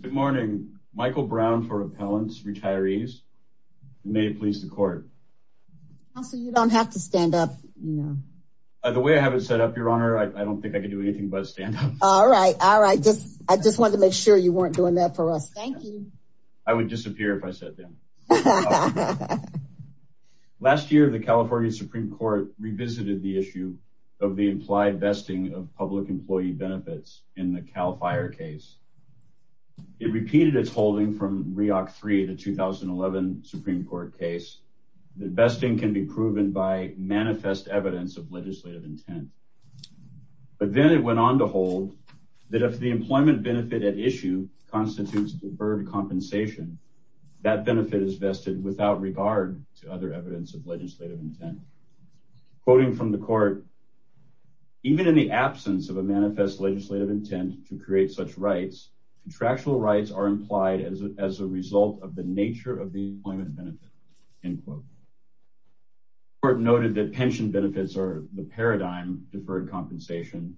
Good morning, Michael Brown for Appellants, Retirees. May it please the court. Counsel, you don't have to stand up. The way I have it set up, Your Honor, I don't think I can do anything but stand up. All right, all right. I just wanted to make sure you weren't doing that for us. Thank you. I would disappear if I sat down. Last year, the California Supreme Court revisited the issue of the implied vesting of public employee benefits in the Cal Fire case. It repeated its holding from 3 to 2011 Supreme Court case. The best thing can be proven by manifest evidence of legislative intent. But then it went on to hold that if the employment benefit at issue constitutes deferred compensation, that benefit is vested without regard to other evidence of legislative intent. Quoting from the court, even in the absence of a manifest legislative intent to create such rights, contractual rights are implied as a result of the nature of the employment benefit. The court noted that pension benefits are the paradigm deferred compensation,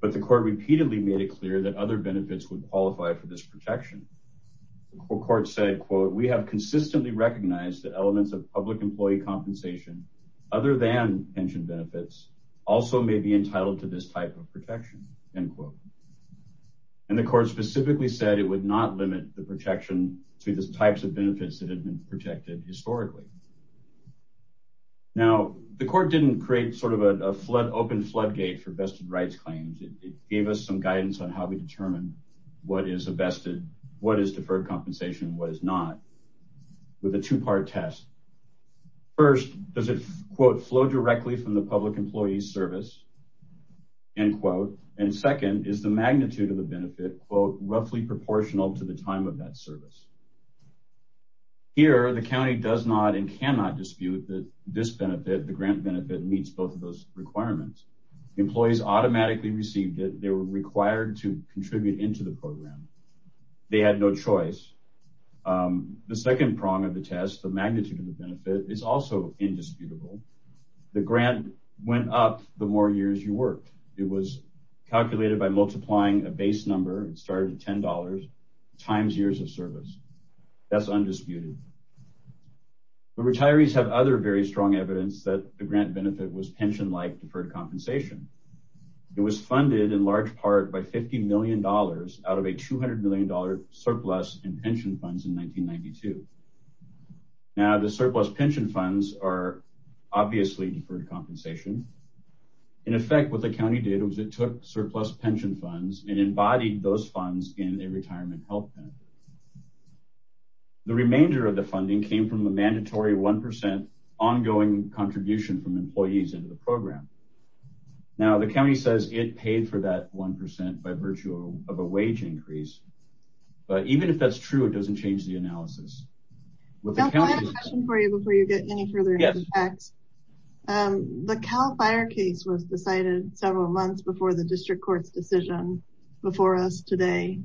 but the court repeatedly made it clear that other benefits would qualify for this protection. The court said, quote, we have consistently recognized that elements of public employee compensation, other than pension benefits, also may be entitled to this type of protection, end quote. And the court specifically said it would not limit the protection to the types of benefits that have been protected historically. Now, the court didn't create sort of a flood, open floodgate for vested rights claims. It gave us some guidance on how we determine what is a vested, what is deferred compensation, what is not with a two part test. First, does it, quote, flow directly from the public employee service, end quote. And second, is the magnitude of the benefit, quote, roughly proportional to the time of that service. Here, the county does not and cannot dispute that this benefit, the grant benefit, meets both of those requirements. Employees automatically received it. They were required to contribute into the program. They had no choice. The second prong of the test, the magnitude of the benefit, is also indisputable. The grant went up the more years you worked. It was calculated by multiplying a base number. It started at $10 times years of service. That's undisputed. The retirees have other very strong evidence that the grant benefit was pension-like deferred compensation. It was funded in large part by $50 million out of a $200 million surplus in pension funds in 1992. Now, the surplus pension funds are obviously deferred compensation. In effect, what the county did was it took surplus pension funds and embodied those funds in a retirement health benefit. The remainder of the funding came from a mandatory 1% ongoing contribution from employees into the program. Now, the county says it paid for that 1% by virtue of a wage increase. But even if that's true, it doesn't change the analysis. I have a question for you before you get any further into the facts. The Cal Fire case was decided several months before the district court's decision before us today.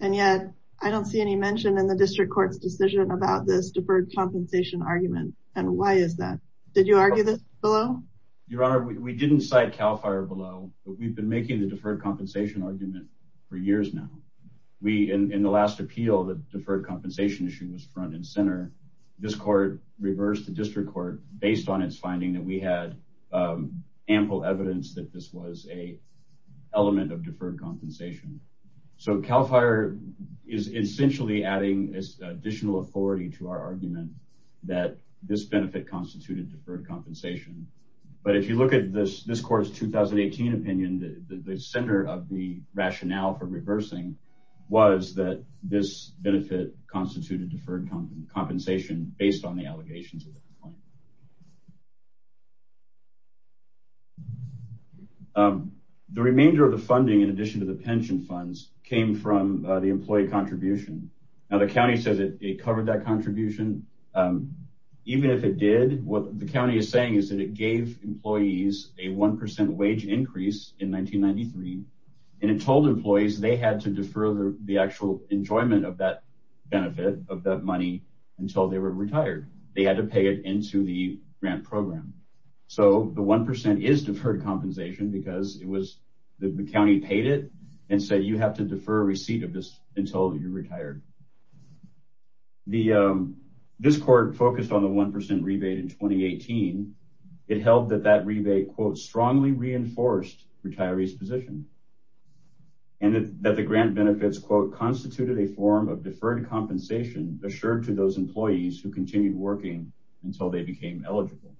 And yet, I don't see any mention in the district court's decision about this deferred compensation argument. And why is that? Did you argue this below? Your Honor, we didn't cite Cal Fire below, but we've been making the deferred compensation argument for years now. In the last appeal, the deferred compensation issue was front and center. This court reversed the district court based on its finding that we had ample evidence that this was an element of deferred compensation. So Cal Fire is essentially adding additional authority to our argument that this benefit constituted deferred compensation. But if you look at this court's 2018 opinion, the center of the rationale for reversing was that this benefit constituted deferred compensation based on the allegations at that point. The remainder of the funding, in addition to the pension funds, came from the employee contribution. Now, the county says it covered that contribution. Even if it did, what the county is saying is that it gave employees a 1% wage increase in 1993. And it told employees they had to defer the actual enjoyment of that benefit, of that money, until they were retired. They had to pay it into the grant program. So the 1% is deferred compensation because the county paid it and said you have to defer receipt of this until you're retired. This court focused on the 1% rebate in 2018. It held that that rebate, quote, strongly reinforced retirees' position. And that the grant benefits, quote, constituted a form of deferred compensation assured to those employees who continued working until they became eligible.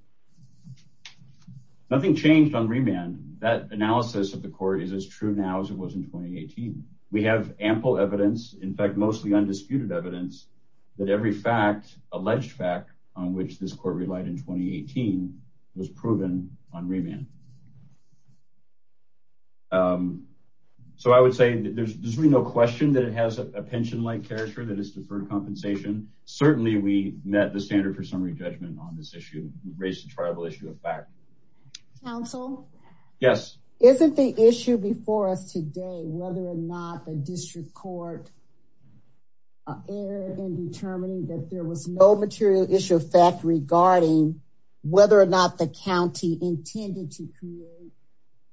Nothing changed on remand. That analysis of the court is as true now as it was in 2018. We have ample evidence, in fact, mostly undisputed evidence, that every fact, alleged fact, on which this court relied in 2018 was proven on remand. So I would say there's really no question that it has a pension-like character that is deferred compensation. Certainly, we met the standard for summary judgment on this issue. We raised a triable issue of fact. Counsel? Yes. Isn't the issue before us today whether or not the district court erred in determining that there was no material issue of fact regarding whether or not the county intended to create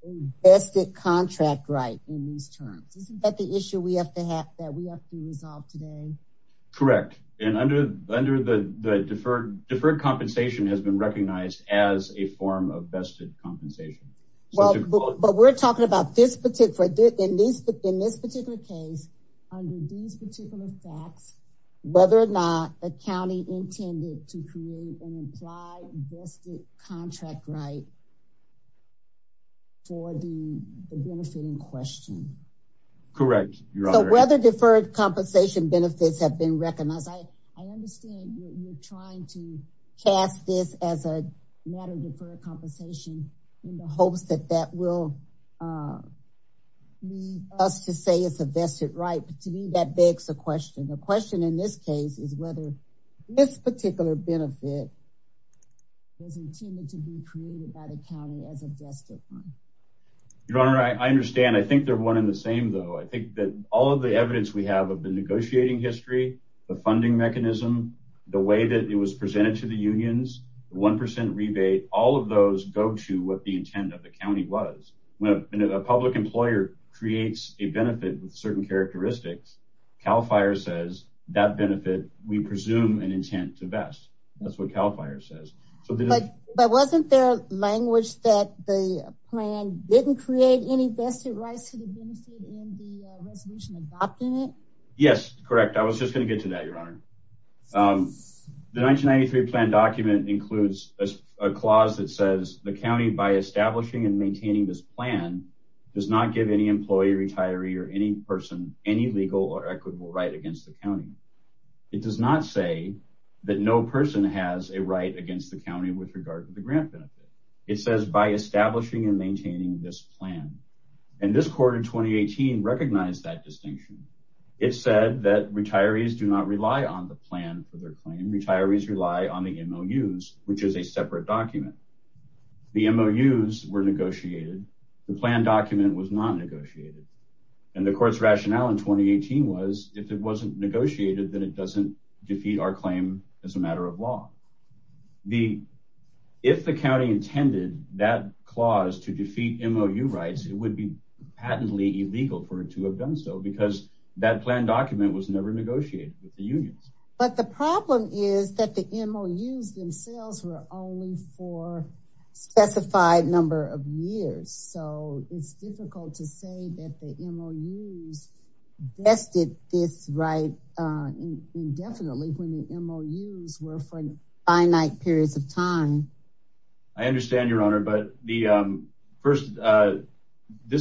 a vested contract right in these terms? Isn't that the issue that we have to resolve today? Correct. And under the deferred compensation has been recognized as a form of vested compensation. But we're talking about in this particular case, under these particular facts, whether or not the county intended to create an implied vested contract right for the benefit in question. Correct, Your Honor. Whether deferred compensation benefits have been recognized, I understand you're trying to cast this as a matter of deferred compensation in the hopes that that will lead us to say it's a vested right. But to me, that begs a question. The question in this case is whether this particular benefit was intended to be created by the county as a vested one. Your Honor, I understand. I think they're one and the same, though. I think that all of the evidence we have of the negotiating history, the funding mechanism, the way that it was presented to the unions, 1% rebate, all of those go to what the intent of the county was. When a public employer creates a benefit with certain characteristics, CAL FIRE says that benefit we presume an intent to vest. That's what CAL FIRE says. But wasn't there language that the plan didn't create any vested rights to the benefit in the resolution adopting it? Yes, correct. I was just going to get to that, Your Honor. The 1993 plan document includes a clause that says the county, by establishing and maintaining this plan, does not give any employee, retiree, or any person any legal or equitable right against the county. It does not say that no person has a right against the county with regard to the grant benefit. It says by establishing and maintaining this plan. And this court in 2018 recognized that distinction. It said that retirees do not rely on the plan for their claim. Retirees rely on the MOUs, which is a separate document. The MOUs were negotiated. The plan document was not negotiated. And the court's rationale in 2018 was if it wasn't negotiated, then it doesn't defeat our claim as a matter of law. If the county intended that clause to defeat MOU rights, it would be patently illegal for it to have done so because that plan document was never negotiated with the unions. But the problem is that the MOUs themselves were only for a specified number of years. So it's difficult to say that the MOUs vested this right indefinitely when the MOUs were for finite periods of time. I understand, Your Honor, but this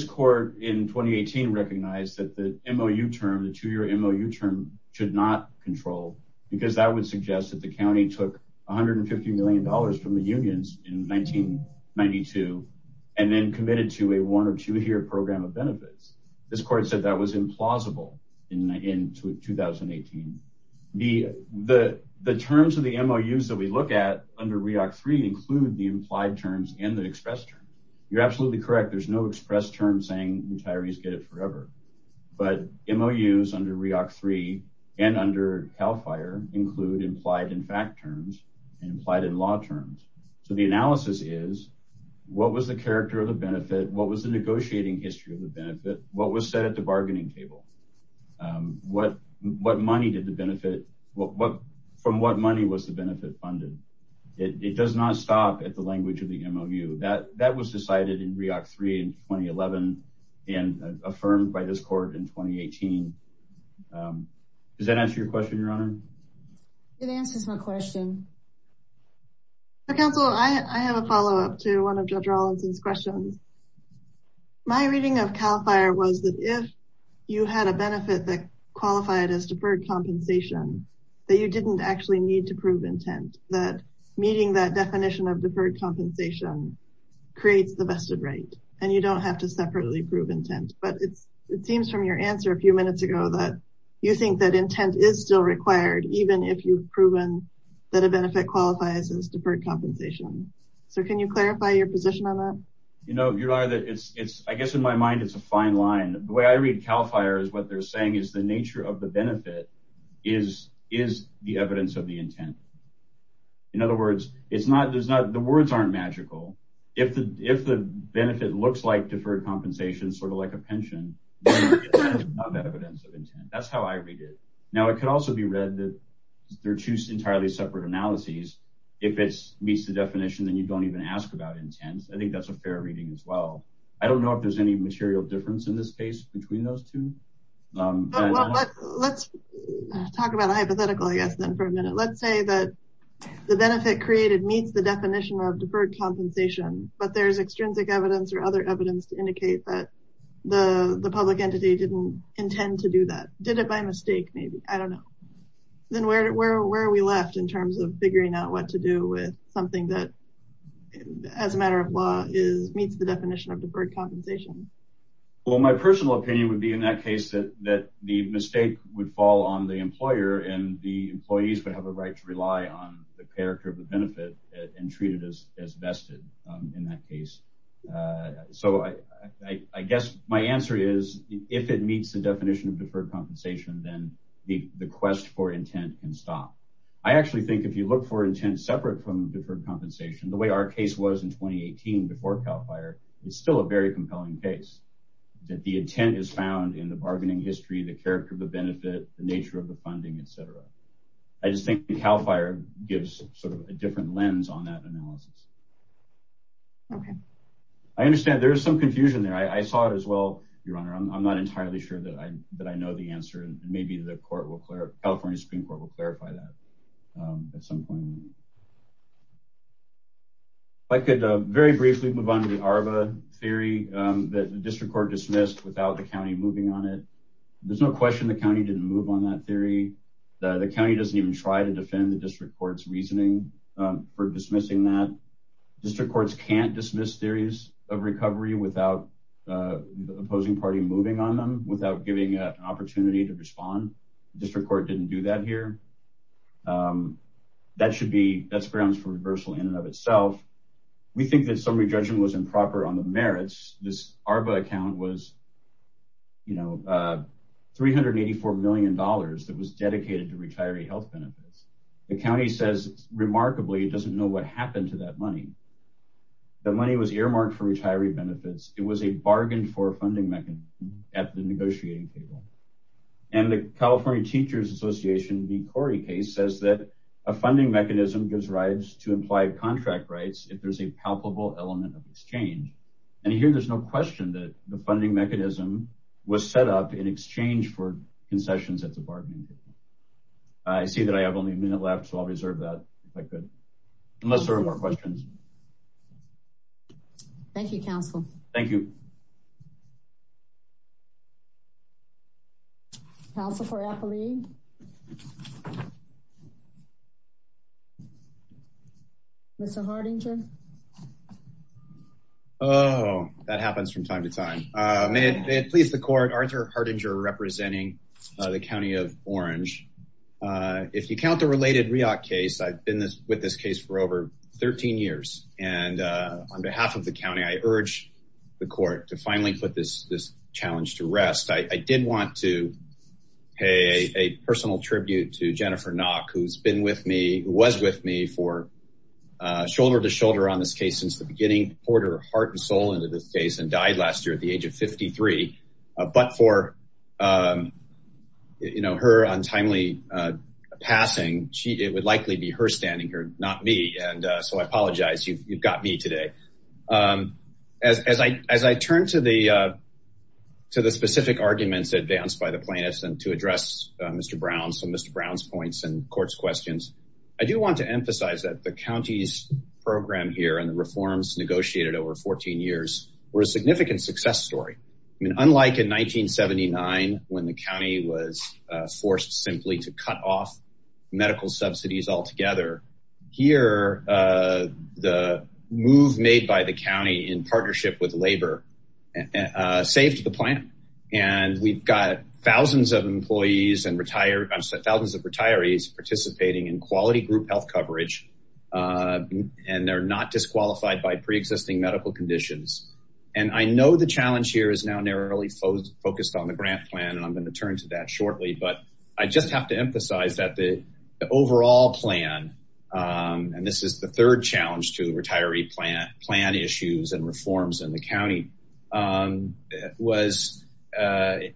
court in 2018 recognized that the MOU term, the two-year MOU term, should not control because that would suggest that the county took $150 million from the unions in 1992 and then committed to a one- or two-year program of benefits. This court said that was implausible in 2018. The terms of the MOUs that we look at under REAC-III include the implied terms and the expressed term. You're absolutely correct. There's no expressed term saying retirees get it forever. But MOUs under REAC-III and under CAL FIRE include implied and fact terms and implied and law terms. So the analysis is what was the character of the benefit? What was the negotiating history of the benefit? What was said at the bargaining table? What money did the benefit—from what money was the benefit funded? It does not stop at the language of the MOU. That was decided in REAC-III in 2011 and affirmed by this court in 2018. Does that answer your question, Your Honor? It answers my question. Counsel, I have a follow-up to one of Judge Rawlinson's questions. My reading of CAL FIRE was that if you had a benefit that qualified as deferred compensation, that you didn't actually need to prove intent. That meeting that definition of deferred compensation creates the vested right, and you don't have to separately prove intent. But it seems from your answer a few minutes ago that you think that intent is still required, even if you've proven that a benefit qualifies as deferred compensation. So can you clarify your position on that? You know, Your Honor, I guess in my mind it's a fine line. The way I read CAL FIRE is what they're saying is the nature of the benefit is the evidence of the intent. In other words, the words aren't magical. If the benefit looks like deferred compensation, sort of like a pension, then that is not evidence of intent. That's how I read it. Now, it could also be read that they're two entirely separate analyses. If it meets the definition, then you don't even ask about intent. I think that's a fair reading as well. I don't know if there's any material difference in this case between those two. Let's talk about a hypothetical, I guess, then for a minute. Let's say that the benefit created meets the definition of deferred compensation, but there's extrinsic evidence or other evidence to indicate that the public entity didn't intend to do that, did it by mistake maybe, I don't know. Then where are we left in terms of figuring out what to do with something that, as a matter of law, meets the definition of deferred compensation? Well, my personal opinion would be in that case that the mistake would fall on the employer and the employees would have a right to rely on the character of the benefit and treat it as vested in that case. I guess my answer is if it meets the definition of deferred compensation, then the quest for intent can stop. I actually think if you look for intent separate from deferred compensation, the way our case was in 2018 before CAL FIRE, it's still a very compelling case, that the intent is found in the bargaining history, the character of the benefit, the nature of the funding, et cetera. I just think CAL FIRE gives sort of a different lens on that analysis. Okay. I understand there is some confusion there. I saw it as well, Your Honor. I'm not entirely sure that I know the answer. Maybe the California Supreme Court will clarify that at some point. If I could very briefly move on to the ARBA theory that the district court dismissed without the county moving on it. There's no question the county didn't move on that theory. The county doesn't even try to defend the district court's reasoning for dismissing that. District courts can't dismiss theories of recovery without the opposing party moving on them, without giving an opportunity to respond. The district court didn't do that here. That's grounds for reversal in and of itself. We think that summary judgment was improper on the merits. This ARBA account was $384 million that was dedicated to retiree health benefits. The county says, remarkably, it doesn't know what happened to that money. That money was earmarked for retiree benefits. It was a bargain for a funding mechanism at the negotiating table. And the California Teachers Association v. Corey case says that a funding mechanism gives rights to implied contract rights if there's a palpable element of exchange. And here there's no question that the funding mechanism was set up in exchange for concessions at the bargaining table. I see that I have only a minute left, so I'll reserve that if I could. Unless there are more questions. Thank you, counsel. Thank you. Counsel for Appali? Mr. Hardinger? Oh, that happens from time to time. May it please the court, Arthur Hardinger representing the county of Orange. If you count the related REAC case, I've been with this case for over 13 years. And on behalf of the county, I urge the court to finally put this challenge to rest. I did want to pay a personal tribute to Jennifer Nock, who's been with me, who was with me for shoulder to shoulder on this case since the beginning. Poured her heart and soul into this case and died last year at the age of 53. But for, you know, her untimely passing, it would likely be her standing here, not me. And so I apologize. You've got me today. As I turn to the specific arguments advanced by the plaintiffs and to address Mr. Brown's and Mr. Brown's points and court's questions, I do want to emphasize that the county's program here and the reforms negotiated over 14 years were a significant success story. I mean, unlike in 1979, when the county was forced simply to cut off medical subsidies altogether here, the move made by the county in partnership with labor saved the plan. And we've got thousands of employees and retired thousands of retirees participating in quality group health coverage. And they're not disqualified by preexisting medical conditions. And I know the challenge here is now narrowly focused on the grant plan. And I'm going to turn to that shortly. But I just have to emphasize that the overall plan, and this is the third challenge to the retiree plan, plan issues and reforms in the county was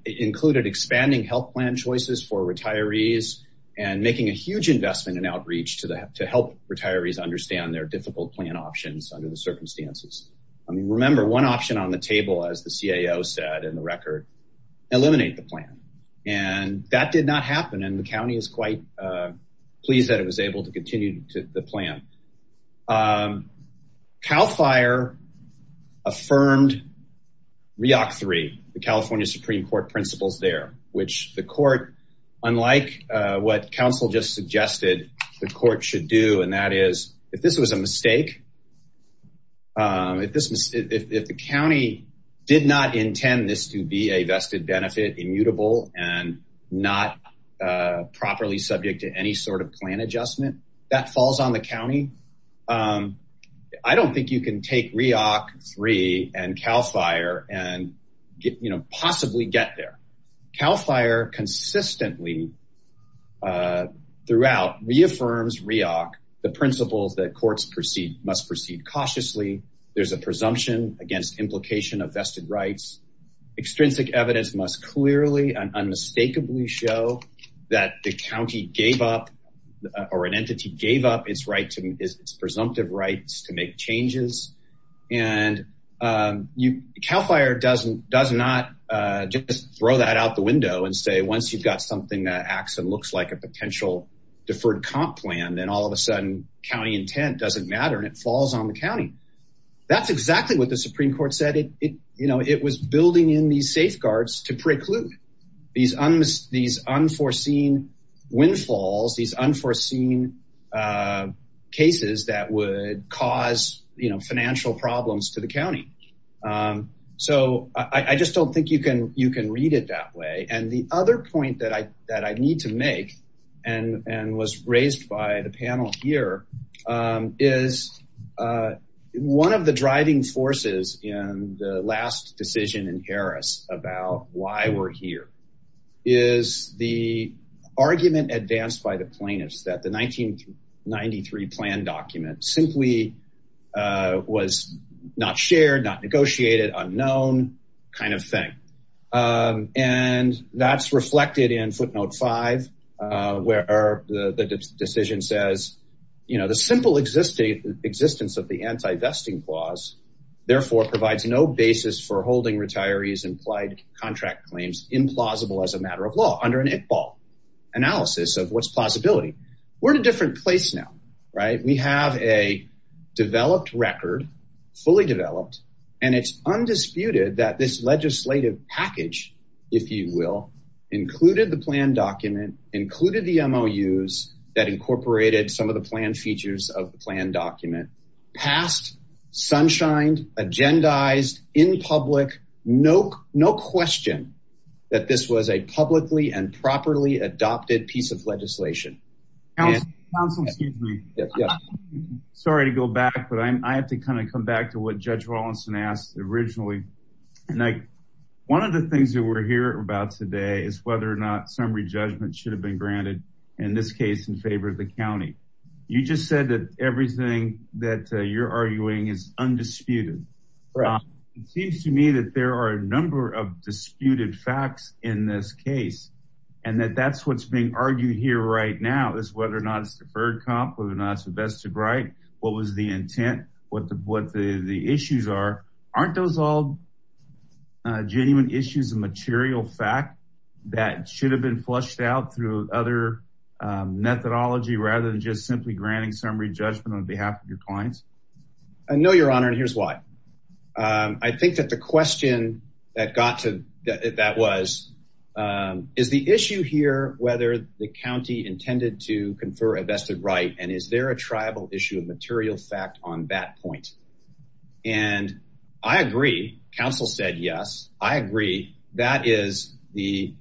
included, expanding health plan choices for retirees and making a huge investment in outreach to help retirees understand their difficult plan options under the circumstances. I mean, remember one option on the table, as the CAO said in the record, eliminate the plan. And that did not happen. And the county is quite pleased that it was able to continue to the plan. CAL FIRE affirmed REOC 3, the California Supreme Court principles there, which the court, if the county did not intend this to be a vested benefit immutable and not properly subject to any sort of plan adjustment that falls on the county. I don't think you can take REOC 3 and CAL FIRE and possibly get there. CAL FIRE consistently throughout reaffirms REOC, the principles that courts proceed must proceed cautiously. There's a presumption against implication of vested rights. Extrinsic evidence must clearly and unmistakably show that the county gave up or an entity gave up its right to its presumptive rights to make changes. And CAL FIRE does not just throw that out the window and say, once you've got something that acts and looks like a potential deferred comp plan, then all of a sudden county intent doesn't matter and it falls on the county. That's exactly what the Supreme Court said. It was building in these safeguards to preclude these unforeseen windfalls, these unforeseen cases that would cause financial problems to the county. So I just don't think you can read it that way. And the other point that I that I need to make and was raised by the panel here is one of the driving forces in the last decision in Harris about why we're here is the argument advanced by the plaintiffs that the 1993 plan document simply was not shared, not negotiated, unknown kind of thing. And that's reflected in footnote five, where the decision says, you know, the simple existence of the anti-vesting clause, therefore, provides no basis for holding retirees implied contract claims implausible as a matter of law under an Iqbal analysis of what's plausibility. We're in a different place now, right? We have a developed record, fully developed, and it's undisputed that this legislative package, if you will, included the plan document, included the MOUs that incorporated some of the plan features of the plan document. It's been passed, sunshined, agendized in public, no question that this was a publicly and properly adopted piece of legislation. Council, excuse me. Sorry to go back, but I have to kind of come back to what Judge Wallinson asked originally. One of the things that we're hearing about today is whether or not summary judgment should have been granted in this case in favor of the county. You just said that everything that you're arguing is undisputed. It seems to me that there are a number of disputed facts in this case, and that that's what's being argued here right now is whether or not it's deferred comp, whether or not it's the best of right, what was the intent, what the issues are. Aren't those all genuine issues, a material fact that should have been flushed out through other methodology rather than just simply granting summary judgment on behalf of your clients? No, Your Honor, and here's why. I think that the question that was, is the issue here whether the county intended to confer a vested right and is there a tribal issue of material fact on that point? And I agree. Council said yes. I agree. That is the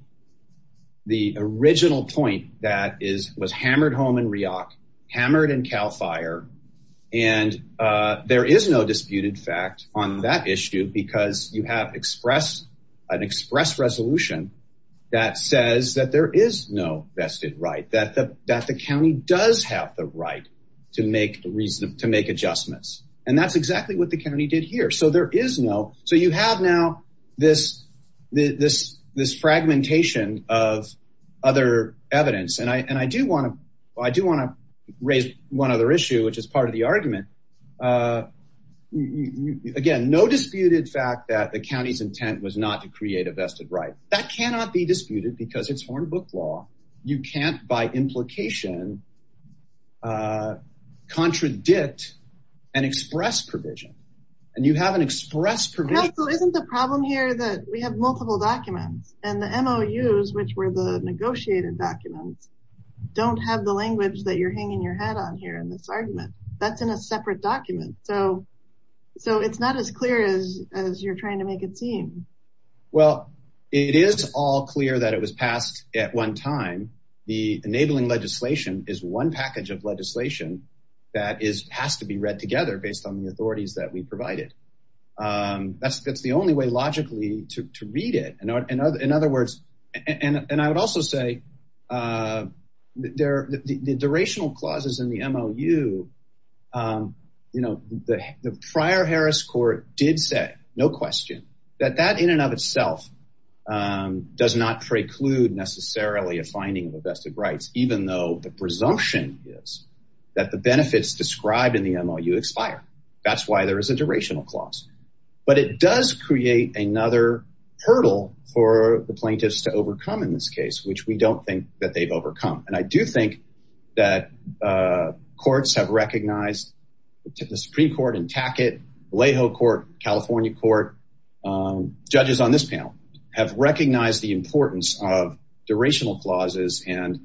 original point that was hammered home in REOC, hammered in CAL FIRE, and there is no disputed fact on that issue because you have an express resolution that says that there is no vested right, that the county does have the right to make adjustments. And that's exactly what the county did here. So there is no. So you have now this fragmentation of other evidence. And I do want to raise one other issue, which is part of the argument. Again, no disputed fact that the county's intent was not to create a vested right. That cannot be disputed because it's Hornbook law. You can't by implication contradict an express provision. And you have an express provision. Council, isn't the problem here that we have multiple documents and the MOUs, which were the negotiated documents, don't have the language that you're hanging your hat on here in this argument. That's in a separate document. So it's not as clear as you're trying to make it seem. Well, it is all clear that it was passed at one time. The enabling legislation is one package of legislation that has to be read together based on the authorities that we provided. That's the only way logically to read it. In other words. And I would also say there are the durational clauses in the MOU. You know, the prior Harris court did say no question that that in and of itself does not preclude necessarily a finding of vested rights, even though the presumption is that the benefits described in the MOU expire. That's why there is a durational clause. But it does create another hurdle for the plaintiffs to overcome in this case, which we don't think that they've overcome. And I do think that courts have recognized the Supreme Court in Tackett, Alejo Court, California Court, judges on this panel have recognized the importance of durational clauses and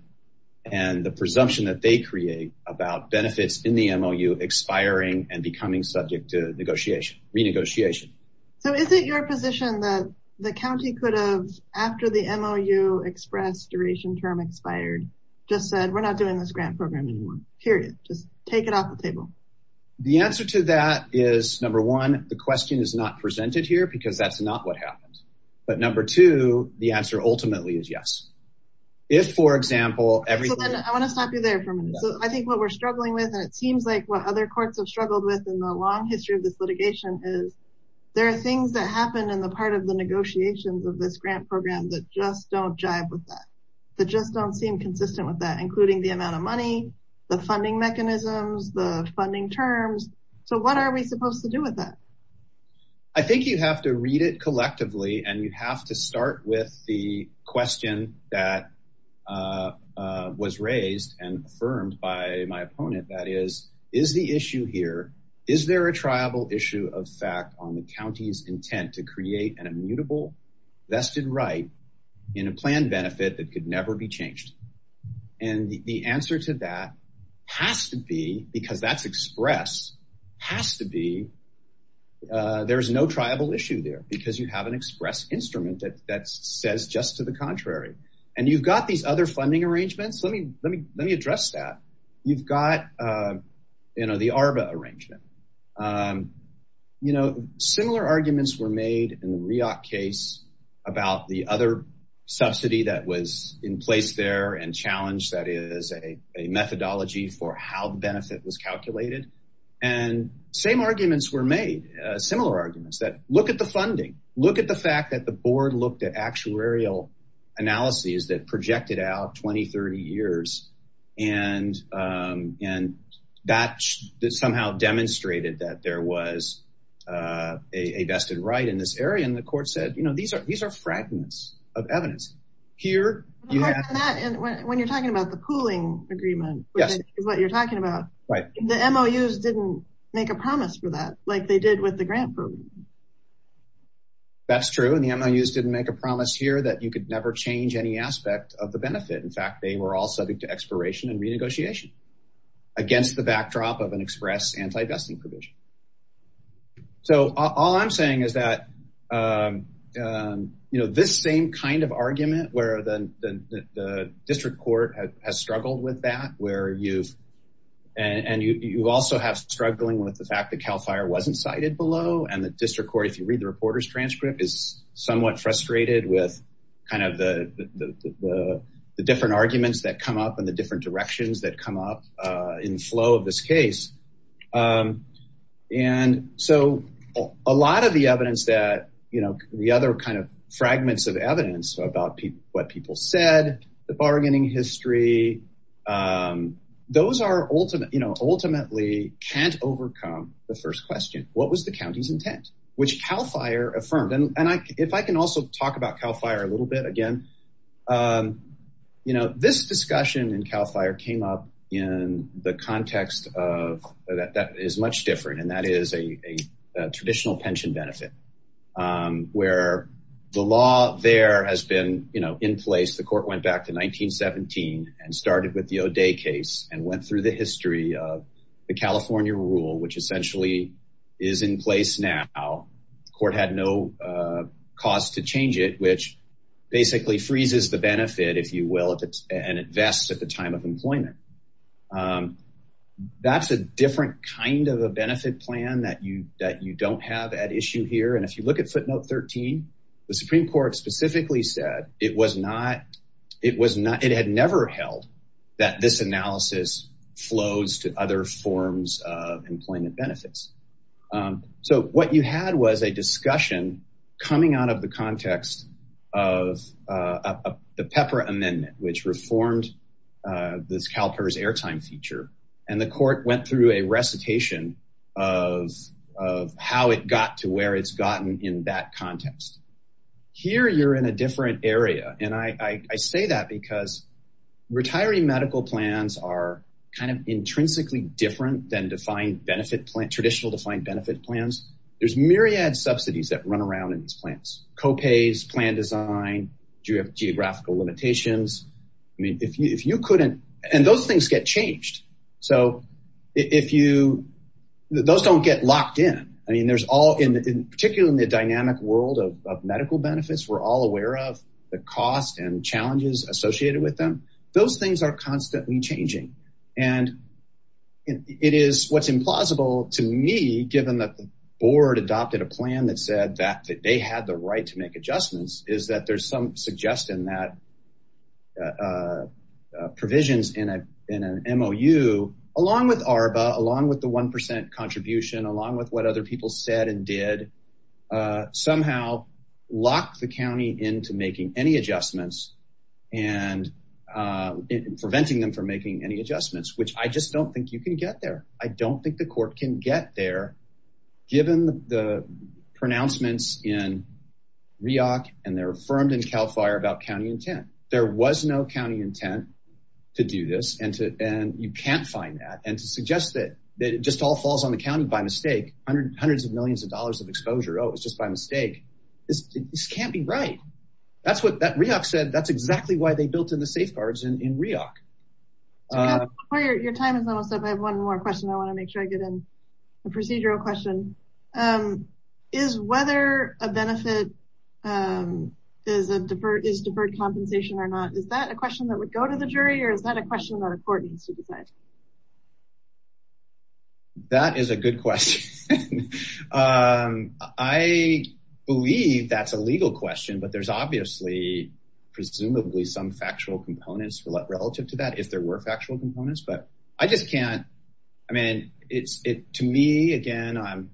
the presumption that they create about benefits in the MOU expiring and becoming subject to negotiation, renegotiation. So is it your position that the county could have, after the MOU express duration term expired, just said, we're not doing this grant program anymore, period. Just take it off the table. The answer to that is number one, the question is not presented here because that's not what happened. But number two, the answer ultimately is yes. If, for example, everything. I want to stop you there for a minute. So I think what we're struggling with, and it seems like what other courts have struggled with in the long history of this litigation is there are things that happen in the part of the negotiations of this grant program that just don't jive with that. That just don't seem consistent with that, including the amount of money, the funding mechanisms, the funding terms. So what are we supposed to do with that? I think you have to read it collectively and you have to start with the question that was raised and affirmed by my opponent. That is, is the issue here? Is there a tribal issue of fact on the county's intent to create an immutable vested right in a plan benefit that could never be changed? And the answer to that has to be because that's expressed has to be. There is no tribal issue there because you have an express instrument that says just to the contrary. And you've got these other funding arrangements. Let me let me let me address that. You've got, you know, the Arba arrangement, you know, similar arguments were made in the case about the other subsidy that was in place there and challenge. That is a methodology for how the benefit was calculated. And same arguments were made, similar arguments that look at the funding, look at the fact that the board looked at actuarial analyses that projected out 20, 30 years. And and that somehow demonstrated that there was a vested right in this area. And the court said, you know, these are these are fragments of evidence here. When you're talking about the pooling agreement, that's what you're talking about, right? The MOUs didn't make a promise for that, like they did with the grant. That's true, and the MOUs didn't make a promise here that you could never change any aspect of the benefit. In fact, they were all subject to expiration and renegotiation against the backdrop of an express anti-vesting provision. So all I'm saying is that, you know, this same kind of argument where the district court has struggled with that, where you've and you also have struggling with the fact that Cal Fire wasn't cited below. And the district court, if you read the reporter's transcript, is somewhat frustrated with kind of the different arguments that come up and the different directions that come up in the flow of this case. And so a lot of the evidence that, you know, the other kind of fragments of evidence about what people said, the bargaining history, those are ultimately, you know, ultimately can't overcome the first question. What was the county's intent, which Cal Fire affirmed? And if I can also talk about Cal Fire a little bit again, you know, this discussion in Cal Fire came up in the context of that is much different. And that is a traditional pension benefit where the law there has been, you know, in place. The court went back to 1917 and started with the O'Day case and went through the history of the California rule, which essentially is in place now. The court had no cause to change it, which basically freezes the benefit, if you will, and it vests at the time of employment. That's a different kind of a benefit plan that you that you don't have at issue here. And if you look at footnote 13, the Supreme Court specifically said it was not it was not it had never held that this analysis flows to other forms of employment benefits. So what you had was a discussion coming out of the context of the Pepper Amendment, which reformed this CalPERS airtime feature. And the court went through a recitation of of how it got to where it's gotten in that context. Here you're in a different area, and I say that because retiring medical plans are kind of intrinsically different than defined benefit plan, traditional defined benefit plans. There's myriad subsidies that run around in these plans, copays, plan design, geographical limitations. I mean, if you if you couldn't and those things get changed. So if you those don't get locked in. I mean, there's all in particular in the dynamic world of medical benefits. We're all aware of the cost and challenges associated with them. Those things are constantly changing. And it is what's implausible to me, given that the board adopted a plan that said that they had the right to make adjustments. Is that there's some suggestion that provisions in an MOU, along with ARBA, along with the 1% contribution, along with what other people said and did somehow lock the county into making any adjustments and preventing them from making any adjustments, which I just don't think you can get there. I don't think the court can get there, given the pronouncements in REAC and they're affirmed in CAL FIRE about county intent. There was no county intent to do this, and you can't find that. And to suggest that it just all falls on the county by mistake, hundreds of millions of dollars of exposure. Oh, it was just by mistake. This can't be right. That's what that REAC said. That's exactly why they built in the safeguards in REAC. Your time is almost up. I have one more question. I want to make sure I get in a procedural question. Is whether a benefit is deferred compensation or not, is that a question that would go to the jury or is that a question that a court needs to decide? That is a good question. I believe that's a legal question, but there's obviously presumably some factual components relative to that, if there were factual components. To me, again,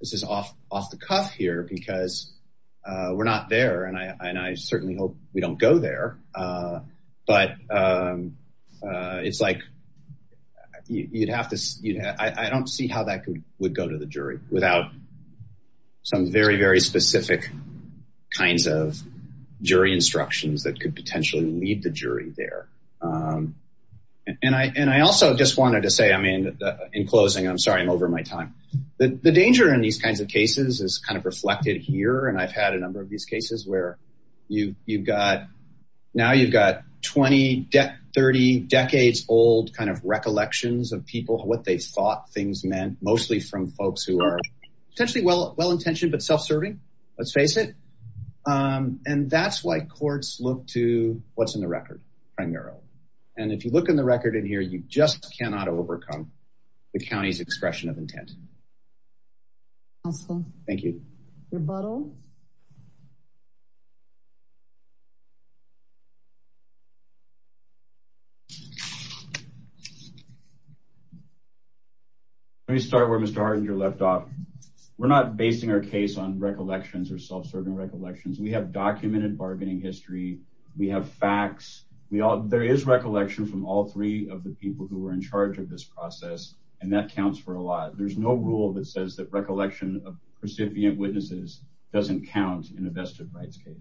this is off the cuff here because we're not there, and I certainly hope we don't go there. But I don't see how that would go to the jury without some very, very specific kinds of jury instructions that could potentially lead the jury there. And I also just wanted to say, I mean, in closing, I'm sorry, I'm over my time. The danger in these kinds of cases is kind of reflected here. And I've had a number of these cases where you've got now you've got 20, 30 decades old kind of recollections of people, what they thought things meant, mostly from folks who are potentially well-intentioned but self-serving, let's face it. And that's why courts look to what's in the record primarily. And if you look in the record in here, you just cannot overcome the county's expression of intent. Thank you. Rebuttal. Let me start where Mr. Hardinger left off. We're not basing our case on recollections or self-serving recollections. We have documented bargaining history. We have facts. There is recollection from all three of the people who were in charge of this process, and that counts for a lot. There's no rule that says that recollection of recipient witnesses doesn't count in a vested rights case.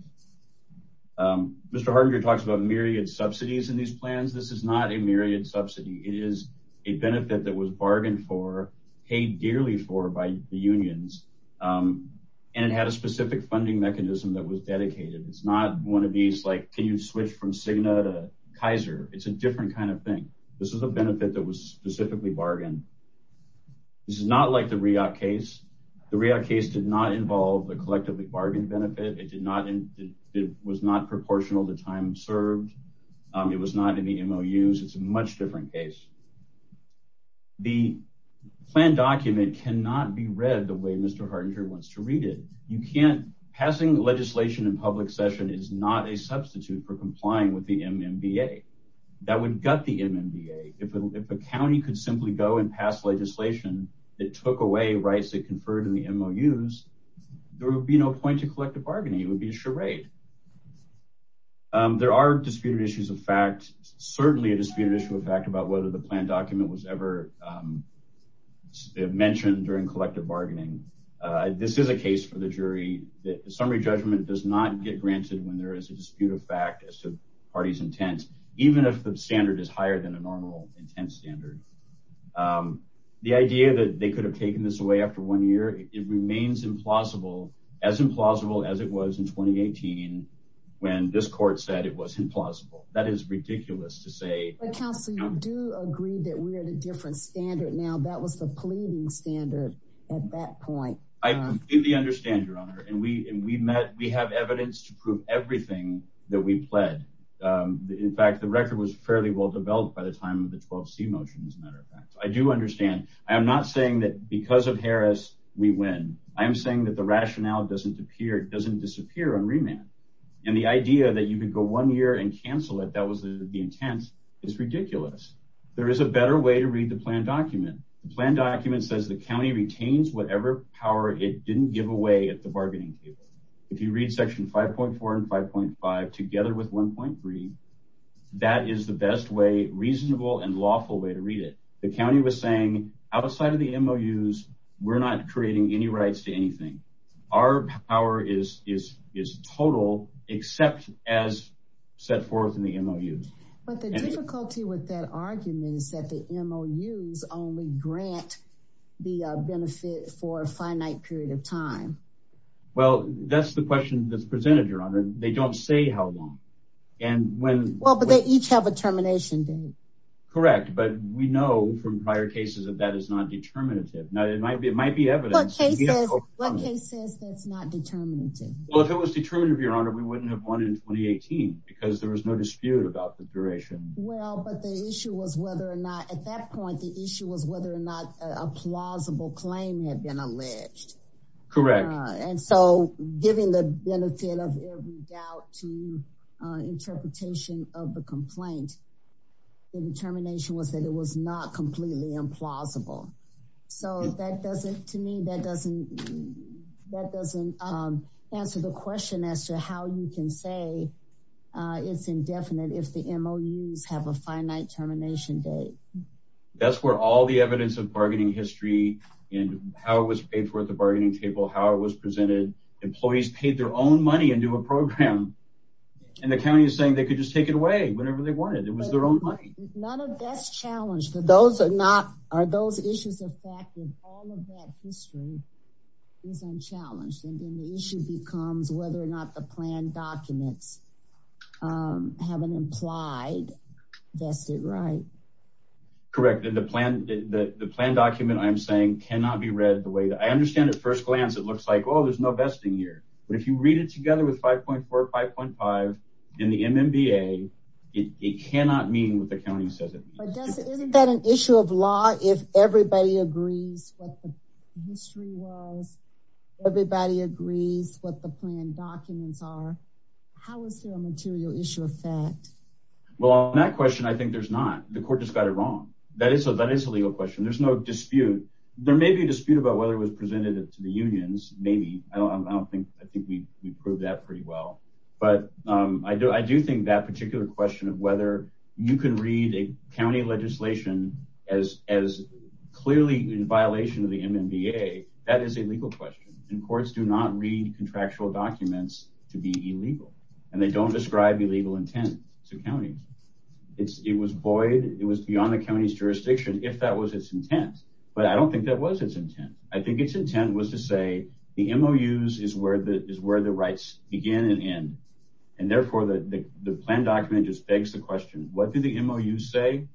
Mr. Hardinger talks about myriad subsidies in these plans. This is not a myriad subsidy. It is a benefit that was bargained for, paid dearly for by the unions, and it had a specific funding mechanism that was dedicated. It's not one of these, like, can you switch from Cigna to Kaiser? It's a different kind of thing. This is a benefit that was specifically bargained. This is not like the REopt case. The REopt case did not involve a collectively bargained benefit. It was not proportional to time served. It was not in the MOUs. It's a much different case. The plan document cannot be read the way Mr. Hardinger wants to read it. Passing legislation in public session is not a substitute for complying with the MMBA. That would gut the MMBA. If a county could simply go and pass legislation that took away rights that conferred in the MOUs, there would be no point to collective bargaining. It would be a charade. There are disputed issues of fact. There is certainly a disputed issue of fact about whether the plan document was ever mentioned during collective bargaining. This is a case for the jury. The summary judgment does not get granted when there is a dispute of fact as to the party's intent, even if the standard is higher than a normal intent standard. The idea that they could have taken this away after one year, it remains implausible, as implausible as it was in 2018 when this court said it was implausible. That is ridiculous to say. But counsel, you do agree that we're at a different standard now. That was the pleading standard at that point. I completely understand, Your Honor. And we have evidence to prove everything that we pled. In fact, the record was fairly well developed by the time of the 12C motion, as a matter of fact. I do understand. I am not saying that because of Harris, we win. I am saying that the rationale doesn't disappear on remand. And the idea that you could go one year and cancel it, that was the intent, is ridiculous. There is a better way to read the plan document. The plan document says the county retains whatever power it didn't give away at the bargaining table. If you read Section 5.4 and 5.5 together with 1.3, that is the best way, reasonable and lawful way to read it. The county was saying, outside of the MOUs, we're not creating any rights to anything. Our power is total, except as set forth in the MOUs. But the difficulty with that argument is that the MOUs only grant the benefit for a finite period of time. Well, that's the question that's presented, Your Honor. They don't say how long. Well, but they each have a termination date. Correct. But we know from prior cases that that is not determinative. It might be evidence. What case says that's not determinative? Well, if it was determinative, Your Honor, we wouldn't have won in 2018 because there was no dispute about the duration. Well, but the issue was whether or not, at that point, the issue was whether or not a plausible claim had been alleged. Correct. And so, giving the benefit of every doubt to interpretation of the complaint, the determination was that it was not completely implausible. So that doesn't, to me, that doesn't answer the question as to how you can say it's indefinite if the MOUs have a finite termination date. That's where all the evidence of bargaining history and how it was paid for at the bargaining table, how it was presented. Employees paid their own money into a program, and the county is saying they could just take it away whenever they wanted. It was their own money. None of that's challenged. Are those issues of fact that all of that history is unchallenged? And then the issue becomes whether or not the plan documents have an implied vested right. Correct. The plan document, I'm saying, cannot be read the way that I understand at first glance, it looks like, oh, there's no vesting here. But if you read it together with 5.4 or 5.5 in the MMBA, it cannot mean what the county says it means. But isn't that an issue of law if everybody agrees what the history was, everybody agrees what the plan documents are? How is there a material issue of fact? Well, on that question, I think there's not. The court just got it wrong. That is a legal question. There's no dispute. There may be a dispute about whether it was presented to the unions, maybe. I don't think we proved that pretty well. But I do think that particular question of whether you can read a county legislation as clearly in violation of the MMBA, that is a legal question. And courts do not read contractual documents to be illegal. And they don't describe illegal intent to counties. It was void, it was beyond the county's jurisdiction if that was its intent. I think its intent was to say the MOUs is where the rights begin and end. And, therefore, the plan document just begs the question, what do the MOUs say?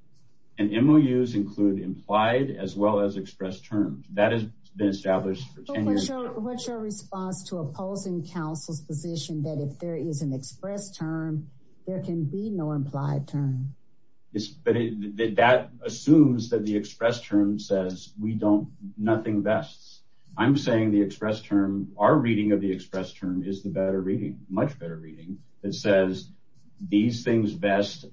And MOUs include implied as well as expressed terms. That has been established for 10 years. But what's your response to opposing counsel's position that if there is an expressed term, there can be no implied term? But that assumes that the expressed term says we don't, nothing vests. I'm saying the expressed term, our reading of the expressed term is the better reading, much better reading. It says these things vest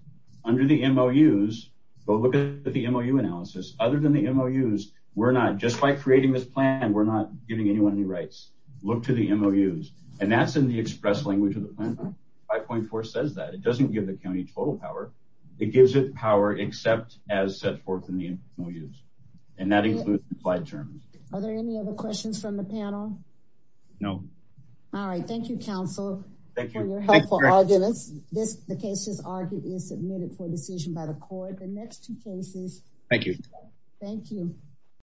under the MOUs. Go look at the MOU analysis. Other than the MOUs, we're not, just like creating this plan, we're not giving anyone any rights. Look to the MOUs. And that's in the expressed language of the plan. 5.4 says that. It doesn't give the county total power. It gives it power except as set forth in the MOUs. And that includes implied terms. Are there any other questions from the panel? No. All right. Thank you, counsel, for your helpful arguments. The case is submitted for decision by the court. The next two cases. Thank you. Thank you.